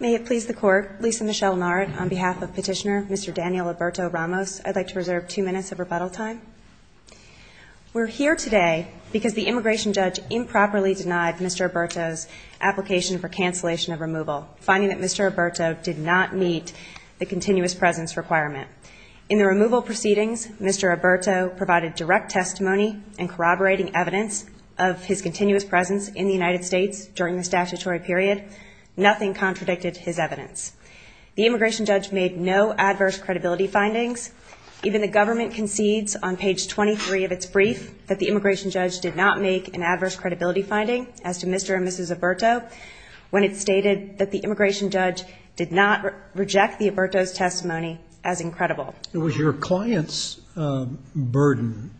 May it please the court, Lisa Michelle Lennart on behalf of petitioner Mr. Daniel Alberto Ramos, I'd like to reserve two minutes of rebuttal time. We're here today because the immigration judge improperly denied Mr. Alberto's application for cancellation of removal, finding that Mr. Alberto did not meet the continuous presence requirement. In the removal proceedings, Mr. Alberto provided direct testimony and corroborating evidence of his continuous presence in the United States during the statutory period. Nothing contradicted his evidence. The immigration judge made no adverse credibility findings. Even the government concedes on page 23 of its brief that the immigration judge did not make an adverse credibility finding as to Mr. And Mrs. Alberto when it stated that the immigration judge did not reject the Alberto's testimony as incredible. It was your client's burden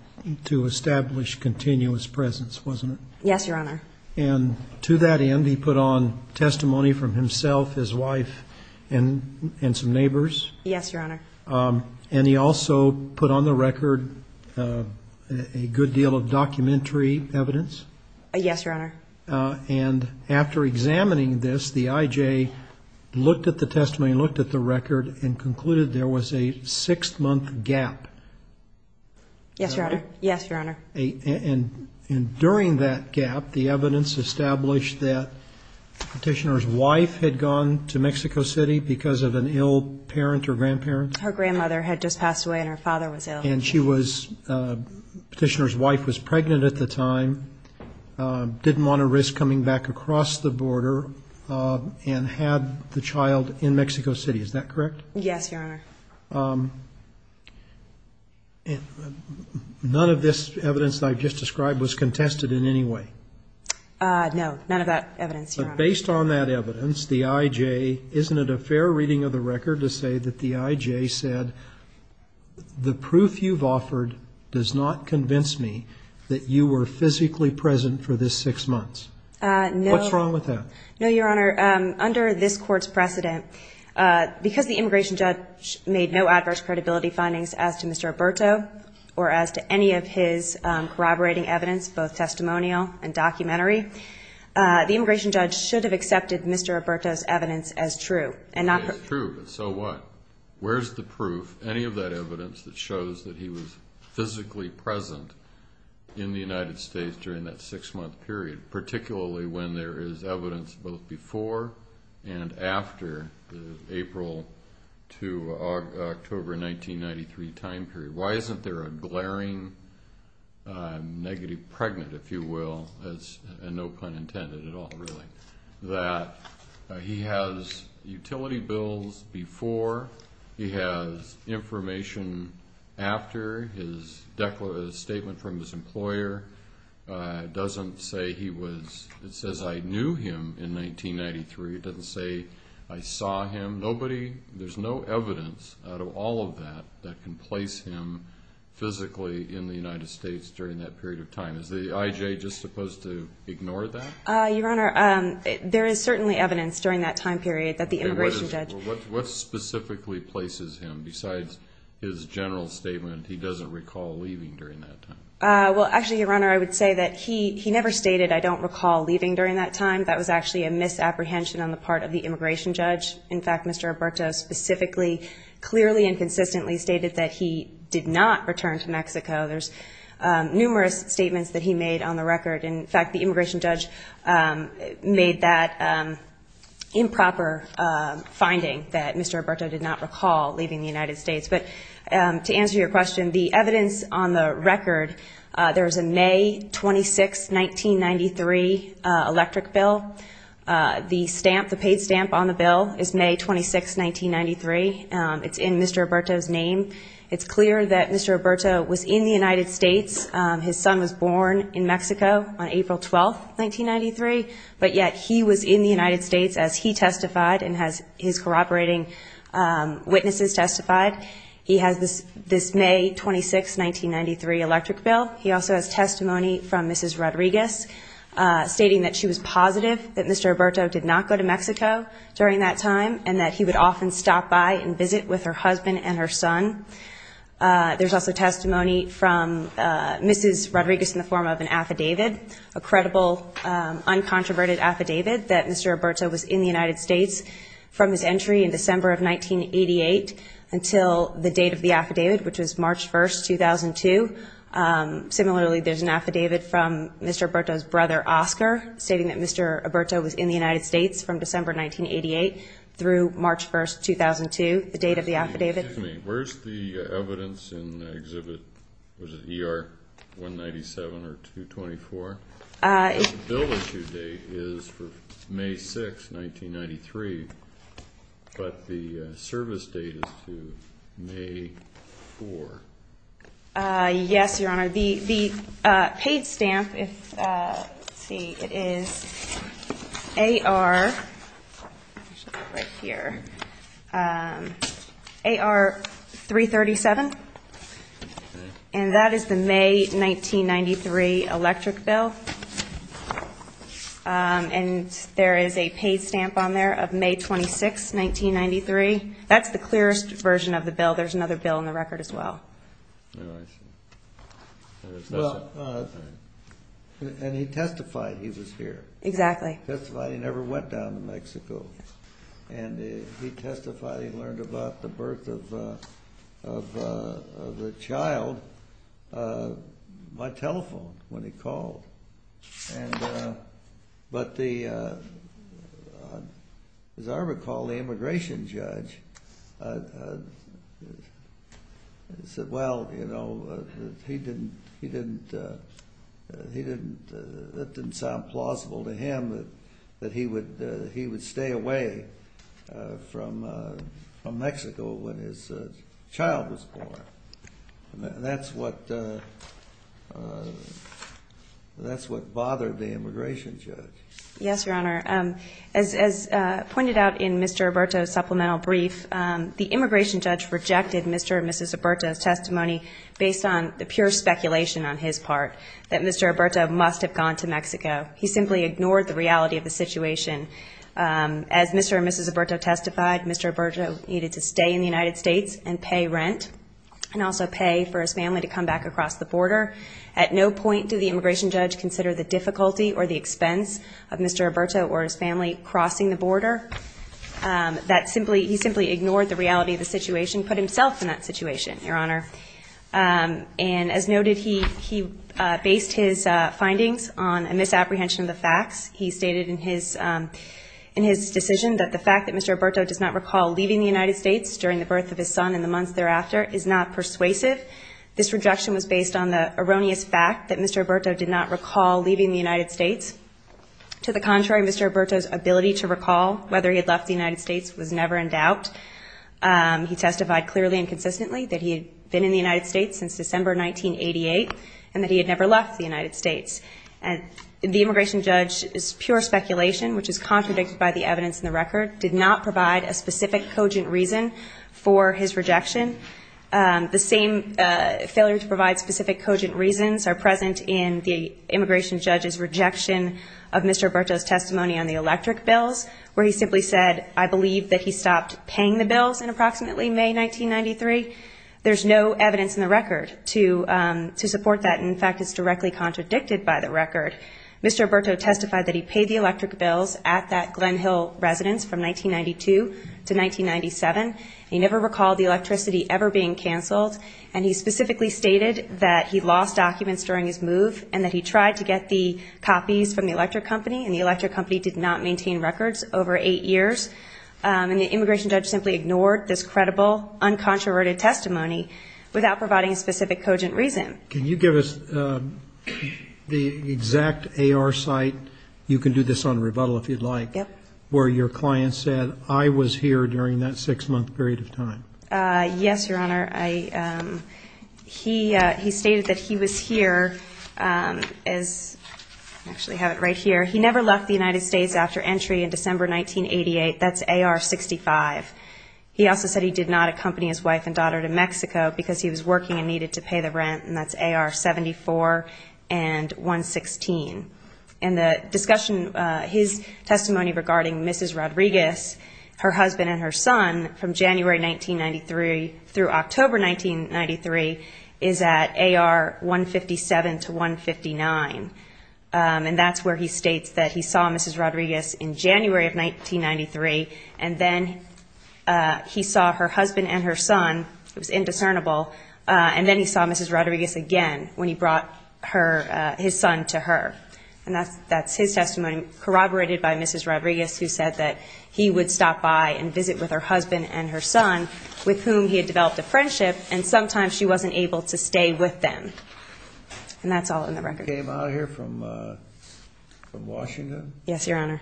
to establish continuous presence, wasn't it? Yes, your honor. And to that end, he put on testimony from himself, his wife and some neighbors. Yes, your honor. And he also put on the record a good deal of documentary evidence. Yes, your honor. And after examining this, the IJ looked at the testimony, looked at the record and concluded there was a six month gap. Yes, your honor. Yes, your honor. And during that gap, the evidence established that Petitioner's wife had gone to Mexico City because of an ill parent or grandparent. Her grandmother had just passed away and her father was ill. And Petitioner's wife was pregnant at the time, didn't want to risk coming back across the border and had the child in Mexico City. Is that correct? Yes, your honor. None of this evidence that I've just described was contested in any way? No, none of that evidence, your honor. But based on that evidence, the IJ, isn't it a fair reading of the record to say that the IJ said, the proof you've offered does not convince me that you were physically present for this six months? No. What's wrong with that? No, your honor. Under this court's precedent, because the immigration judge, the immigration judge made no adverse credibility findings as to Mr. Alberto, or as to any of his corroborating evidence, both testimonial and documentary, the immigration judge should have accepted Mr. Alberto's evidence as true. It is true, but so what? Where's the proof, any of that evidence that shows that he was physically present in the United States during that six month period, particularly when there is evidence both before and after the April to October 1993 time period? Why isn't there a glaring negative pregnant, if you will, and no pun intended at all, really, that he has utility bills before, he has information after, his statement from his employer doesn't say he was present. It says I knew him in 1993. It doesn't say I saw him. Nobody, there's no evidence out of all of that, that can place him physically in the United States during that period of time. Is the IJ just supposed to ignore that? Your honor, there is certainly evidence during that time period that the immigration judge... What specifically places him, besides his general statement, he doesn't recall leaving during that time? Well, actually, your honor, I would say that he never stated, I don't recall leaving during that time. That was actually a misapprehension on the part of the immigration judge. In fact, Mr. Roberto specifically, clearly and consistently stated that he did not return to Mexico. There's numerous statements that he made on the record. In fact, the immigration judge made that improper finding that Mr. Roberto did not recall leaving the United States. But to answer your question, the evidence on the record, there was a May 26, 1993 electric bill. The stamp, the paid stamp on the bill is May 26, 1993. It's in Mr. Roberto's name. It's clear that Mr. Roberto was in the United States. His son was born in Mexico on April 12, 1993, but yet he was in the United States as he testified and has his corroborating witnesses testified. He has this May 26, 1993 electric bill. He also has testimony from Mrs. Rodriguez stating that she was positive that Mr. Roberto did not go to Mexico during that time and that he would often stop by and visit with her husband and her son. There's also testimony from Mrs. Rodriguez in the form of an affidavit, a credible, uncontroverted affidavit that Mr. Roberto was in the United States from his entry in December of 1988 until the date of the affidavit, which was March 1, 2002. Similarly, there's an affidavit from Mr. Roberto's brother, Oscar, stating that Mr. Roberto was in the United States from December 1988 through March 1, 2002, the date of the affidavit. Excuse me, where's the evidence in Exhibit, was it ER 197 or 224? The bill issue date is for May 6, 1993, but the service date is to May 4. Yes, Your Honor. The paid stamp, let's see, it is AR, right here, AR 337. And that is the May 1993 electric bill. And there is a paid stamp on there of May 26, 1993. That's the clearest version of the bill. There's another bill in the record as well. Well, and he testified he was here. Exactly. Testified he never went down to Mexico. And he testified he learned about the birth of the child by telephone when he called. And, but the, as I recall, the immigration judge said, well, you know, he didn't, he didn't, he didn't, that didn't sound plausible to him that, that he would, he would stay away from, from Mexico when his child was born. And that's what, that's what bothered the immigration judge. Yes, Your Honor. As, as pointed out in Mr. Roberto's supplemental brief, the immigration judge rejected Mr. and Mrs. Roberto's testimony based on the pure speculation on his part that Mr. Roberto must have gone to Mexico. He simply ignored the reality of the situation. As Mr. and Mrs. Roberto testified, Mr. Roberto needed to stay in the United States and pay rent and also pay for his family to come back across the border. At no point do the immigration judge consider the difficulty or the expense of Mr. Roberto or his family crossing the border. That simply, he simply ignored the reality of the situation, put himself in that situation, Your Honor. And as noted, he, he based his findings on a misapprehension of the facts. He stated in his, in his decision that the fact that Mr. Roberto does not recall leaving the United States during the birth of his son in the months thereafter is not persuasive. This rejection was based on the erroneous fact that Mr. Roberto did not recall leaving the United States. To the contrary, Mr. Roberto's ability to recall whether he had left the United States was never in doubt. He testified clearly and consistently that he had been in the United States since December, 1988, and that he had never left the United States. And the immigration judge is pure speculation, which is contradicted by the evidence in the record, did not provide a specific cogent reason for his rejection. The same failure to provide specific cogent reasons are present in the immigration judge's rejection of Mr. Roberto's testimony on the electric bills, where he simply said, I believe that he stopped paying the bills in approximately May, 1993. There's no evidence in the record to, to support that. In fact, it's directly contradicted by the record. Mr. Roberto testified that he paid the electric bills at that Glen Hill residence from 1992 to 1997. He never recalled the electricity ever being canceled. And he specifically stated that he lost documents during his move and that he tried to get the copies from the electric company and the electric company did not maintain records over eight years. And the immigration judge simply ignored this credible, uncontroverted testimony without providing a specific cogent reason. Can you give us the exact AR site? You can do this on rebuttal if you'd like, where your client said, I was here during that six month period of time. Yes, Your Honor. I, he, he stated that he was here as actually have it right here. He never left the United States after entry in December, 1988. That's AR 65. He also said he did not accompany his wife and daughter to Mexico because he was working and needed to pay the rent. And that's AR 74 and 116. And the discussion, his testimony regarding Mrs. Rodriguez, her husband and her son from January, 1993 through October, 1993 is at AR 157 to 159. And that's where he states that he saw Mrs. Rodriguez in January of 1993. And then he saw her husband and her son. It was indiscernible. And then he saw Mrs. Rodriguez again when he brought her, his son to her. And that's, that's his testimony corroborated by Mrs. Rodriguez, who said that he would stop by and visit with her husband and her son with whom he had developed a friendship. And sometimes she wasn't able to stay with them. And that's all in the record. You came out of here from, from Washington? Yes, Your Honor.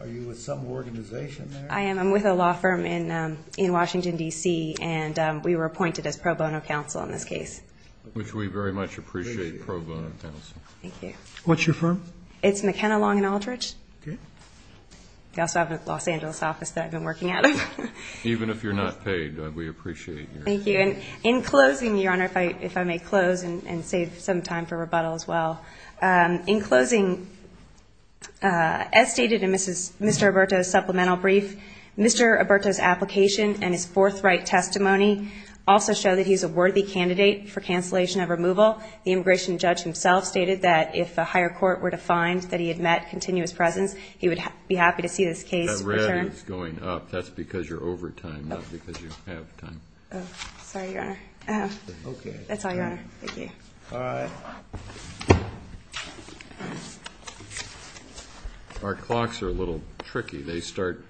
Are you with some organization there? I am. I'm with a law firm in, in Washington, D.C. And we were appointed as pro bono counsel on this case. Which we very much appreciate, pro bono counsel. Thank you. What's your firm? It's McKenna, Long & Aldrich. Okay. They also have a Los Angeles office that I've been working at. Even if you're not paid, we appreciate you. Thank you. In closing, Your Honor, if I, if I may close and save some time for rebuttal as well. In closing, as stated in Mrs., Mr. Alberto's supplemental brief, Mr. Alberto's application and his forthright testimony also show that he's a worthy candidate for cancellation of removal. The immigration judge himself stated that if a higher court were to find that he had met continuous presence, he would be happy to see this case returned. That red is going up. That's because you're over time, not because you have time. Sorry, Your Honor. Okay. That's all, Your Honor. Thank you. All right. Our clocks are a little tricky. They start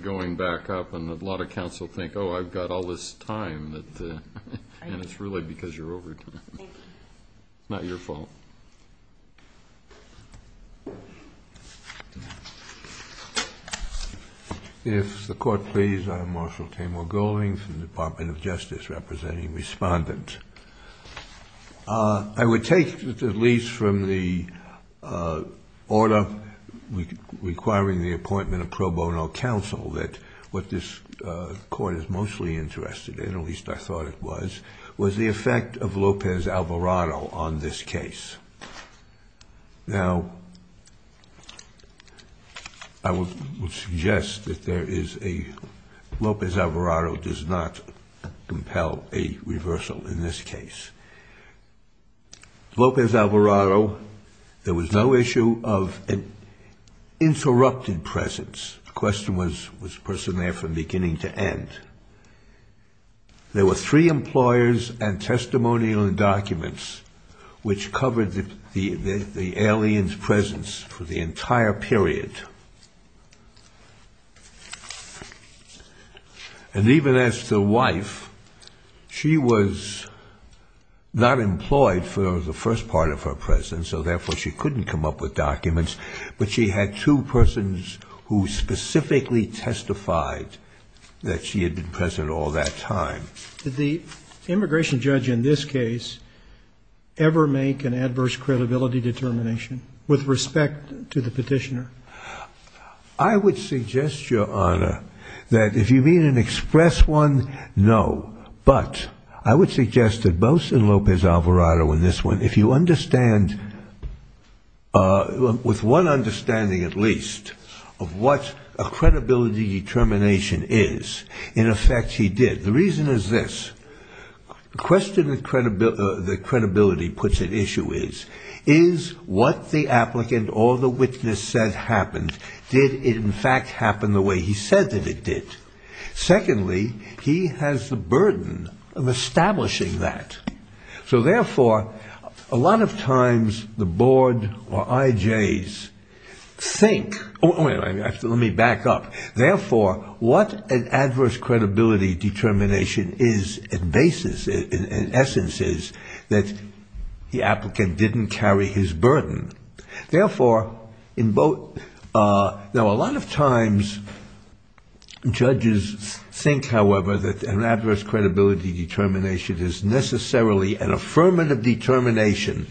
going back up and a lot of counsel think, oh, I've got all this time that, and it's really because you're over time. Not your fault. If the court please, I'm Marshal Tamor Golding from the Department of Justice representing Respondent. I would take at least from the order requiring the appointment of pro bono counsel that what this court is mostly interested in, at least I thought it was, was the effect of Lopez Alvarado on this case. Now, I would suggest that there is a, Lopez Alvarado does not compel a reversal in this case. Lopez Alvarado, there was no issue of an interrupted presence. The question was, was the person there from beginning to end. There were three employers and testimonial and documents which covered the alien's presence for the entire period. And even as the wife, she was not employed for the first part of her presence. So therefore she couldn't come up with documents, but she had two persons who specifically testified that she had been present all that time. Did the immigration judge in this case ever make an adverse credibility determination with respect to the petitioner? I would suggest, Your Honor, that if you mean an express one, no, but I would suggest that both in Lopez Alvarado in this one, if you understand, with one understanding at least of what a credibility determination is, in effect he did. The reason is this. The question that credibility puts at issue is, is what the applicant or the witness said happened, did it in fact happen the way he said that it did? Secondly, he has the burden of establishing that. So therefore, a lot of times the board or IJs think, let me back up, therefore, what an adverse credibility determination is at basis, in essence is, that the applicant didn't carry his burden. Therefore, now a lot of times judges think, however, that an adverse credibility determination is necessarily an affirmative determination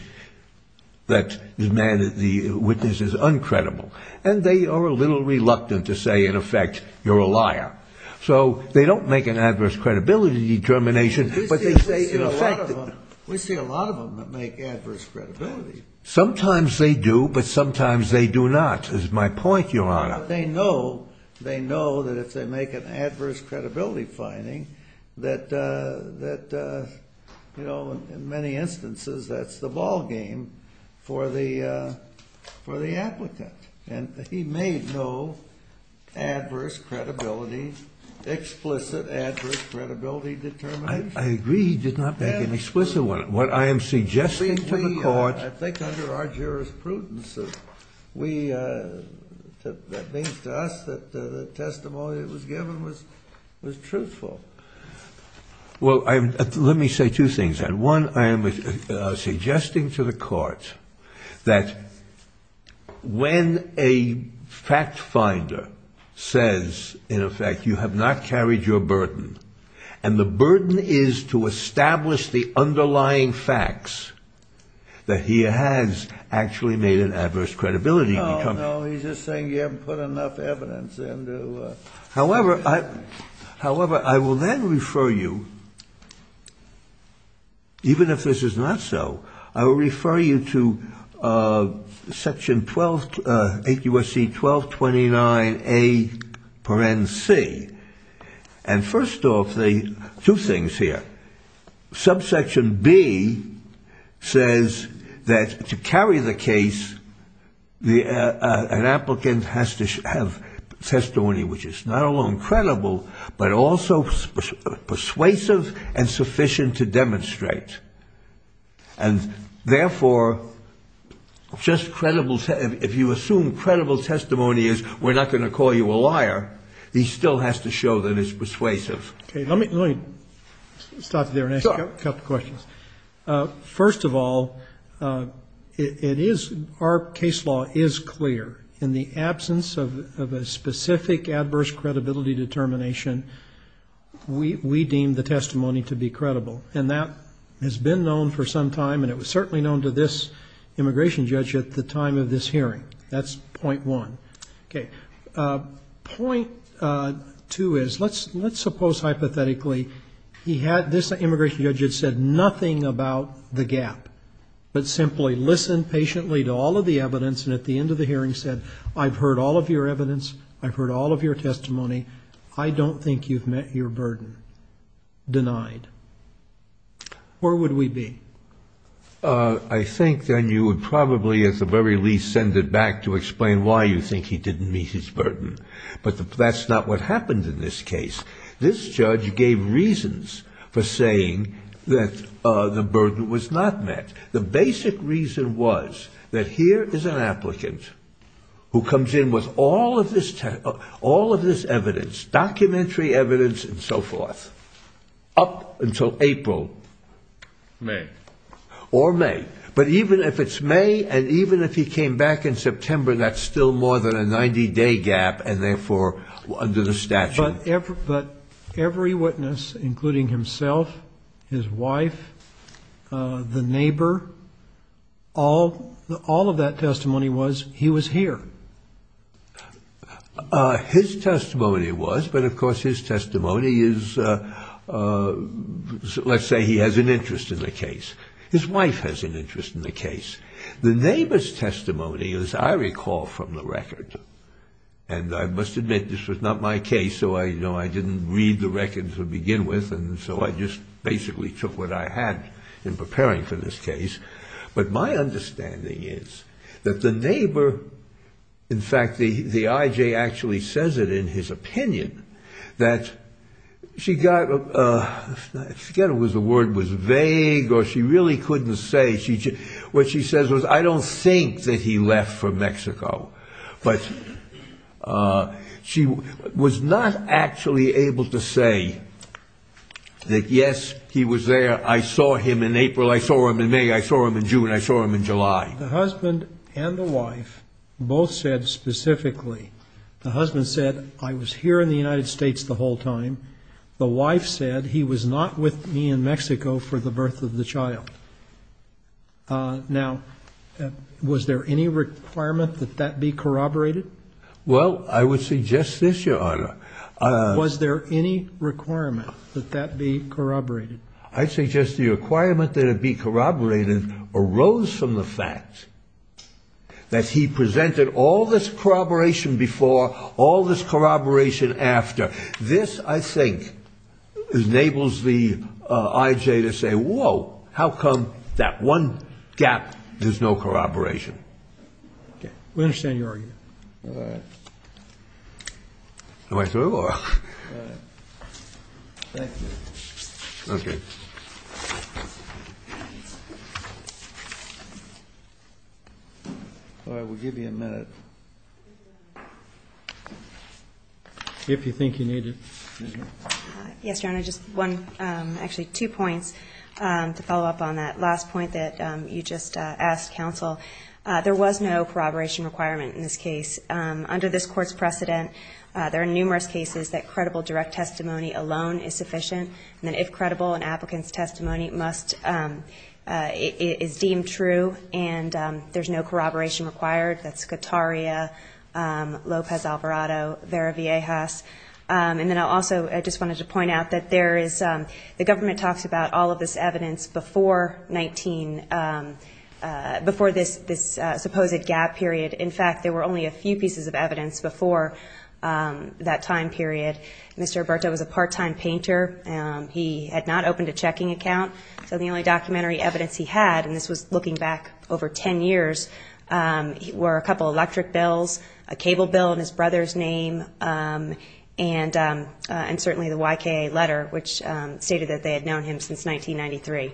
that the witness is uncredible. And they are a little reluctant to say, in effect, you're a liar. So they don't make an adverse credibility determination. We see a lot of them that make adverse credibility. Sometimes they do, but sometimes they do not, is my point, Your Honor. But they know, they know that if they make an adverse credibility finding that, that, you know, in many instances, that's the ball game for the, for the applicant and he made no adverse credibility, explicit adverse credibility determination. I agree. He did not make an explicit one. What I am suggesting to the court. I think under our jurisprudence, we, that means to us that the testimony that was given was, was truthful. Well, I'm, let me say two things. One, I am suggesting to the court that when a fact finder says, in effect, you have not carried your burden and the burden is to establish the underlying facts that he has actually made an adverse credibility. No, no. He's just saying you haven't put enough evidence into. However, I, however, I will then refer you. Even if this is not so, I will refer you to section 12, 8 U.S.C. 1229 A. C. And first off the two things here, subsection B says that to carry the case, the, an applicant has to have testimony, which is not only credible, but also persuasive and sufficient to demonstrate. And therefore just credible. If you assume credible testimony is we're not going to call you a liar. He still has to show that it's persuasive. Okay. Let me, let me stop there and ask a couple of questions. First of all, it is, our case law is clear in the absence of a specific adverse credibility determination. We, we deem the testimony to be credible and that has been known for some time. And it was certainly known to this immigration judge at the time of this hearing, that's point one. Okay. Point two is let's, let's suppose hypothetically he had this immigration judge had said nothing about the gap, but simply listen patiently to all of the evidence. And at the end of the hearing said, I've heard all of your evidence. I've heard all of your testimony. I don't think you've met your burden denied. Where would we be? Uh, I think then you would probably at the very least send it back to explain why you think he didn't meet his burden, but that's not what happened in this case. This judge gave reasons for saying that, uh, the burden was not met. The basic reason was that here is an applicant who comes in with all of this all of this evidence, documentary evidence and so forth up until April. May. Or May. But even if it's May and even if he came back in September, that's still more than a 90 day gap. And therefore under the statute. But every witness, including himself, his wife, uh, the neighbor, all, all of that testimony was he was here. Uh, his testimony was, but of course his testimony is, uh, uh, let's say he has an interest in the case. His wife has an interest in the case. The neighbor's testimony, as I recall from the record, and I must admit this was not my case. So I, you know, I didn't read the record to begin with. And so I just basically took what I had in preparing for this case. But my understanding is that the neighbor, in fact, the, the IJ actually says it in his opinion that she got, uh, I forget if the word was vague or she really couldn't say, what she says was, I don't think that he left for Mexico. But, uh, she was not actually able to say that, yes, he was there. I saw him in April. I saw him in May. I saw him in June. I saw him in July. The husband and the wife both said specifically, the husband said, I was here in the United States the whole time. The wife said he was not with me in Mexico for the birth of the child. Uh, now, uh, was there any requirement that that be corroborated? Well, I would suggest this, your honor. Was there any requirement that that be corroborated? I'd say just the requirement that it be corroborated arose from the fact that he presented all this corroboration before, all this corroboration after. This, I think, enables the, uh, IJ to say, whoa, how come that one gap, there's no corroboration? Okay. We understand your argument. Am I through or? All right. Thank you. Okay. All right. We'll give you a minute. If you think you need it. Yes, your honor. Just one, um, actually two points, um, to follow up on that last point that, um, you just, uh, asked counsel. Uh, there was no corroboration requirement in this case. Um, under this court's precedent, uh, there are numerous cases that credible direct testimony alone is sufficient. And then if credible and applicants testimony must, um, uh, is deemed true and, um, there's no corroboration required, that's Kataria, um, Lopez Alvarado, Vera Viejas, um, and then I'll also, I just wanted to point out that there is, um, the government talks about all of this evidence before 19, um, uh, before this, this, uh, supposed gap period. In fact, there were only a few pieces of evidence before, um, that time period. Mr. Alberto was a part-time painter. Um, he had not opened a checking account. So the only documentary evidence he had, and this was looking back over 10 years, um, were a couple of electric bills, a cable bill in his brother's name. Um, and, um, uh, and certainly the YK letter, which, um, stated that they had known him since 1993.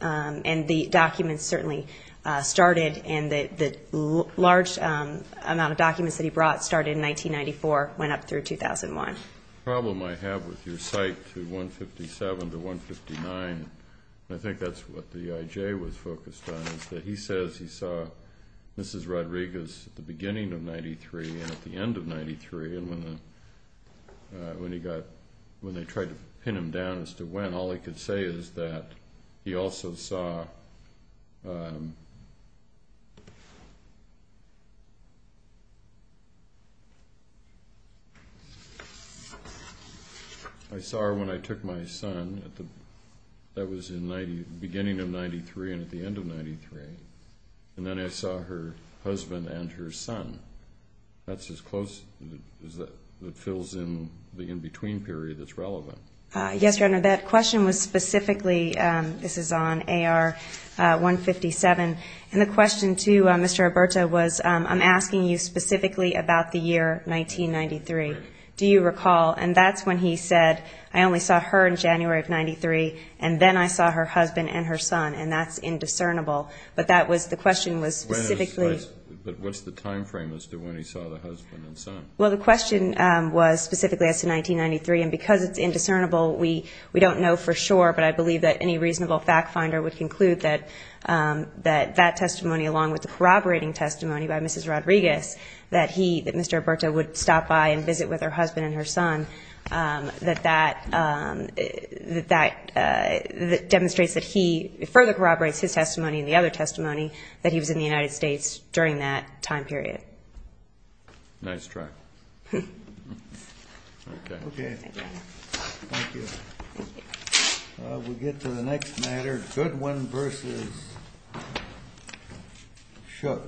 Um, and the documents certainly, uh, started and the, the large, um, amount of documents that he brought started in 1994, went up through 2001. Problem I have with your site to 157 to 159, I think that's what the IJ was focused on is that he says he saw Mrs. Rodriguez at the beginning of 93 and at the end of 93. And when the, uh, when he got, when they tried to pin him down as to when, all I could say is that he also saw, um, I saw her when I took my son at the, that was in 90, beginning of 93 and at the end of 93, and then I saw her husband and her son. That's as close as that fills in the in-between period that's relevant. Uh, yes. Your Honor, that question was specifically, um, this is on AR, uh, 157. And the question to, uh, Mr. Roberto was, um, I'm asking you specifically about the year 1993. Do you recall? And that's when he said, I only saw her in January of 93. And then I saw her husband and her son and that's indiscernible, but that was the question was specifically. But what's the timeframe as to when he saw the husband and son? Well, the question, um, was specifically as to 1993 and because it's indiscernible, we, we don't know for sure, but I believe that any reasonable fact finder would conclude that, um, that that testimony, along with the corroborating testimony by Mrs. Rodriguez, that he, that Mr. Roberto would stop by and visit with her husband and her son. Um, that, that, um, that, uh, that demonstrates that he further corroborates his testimony and the other testimony that he was in the United States during that time period. Nice try. Hmm. Okay. Thank you. We'll get to the next matter. Goodwin versus Shook.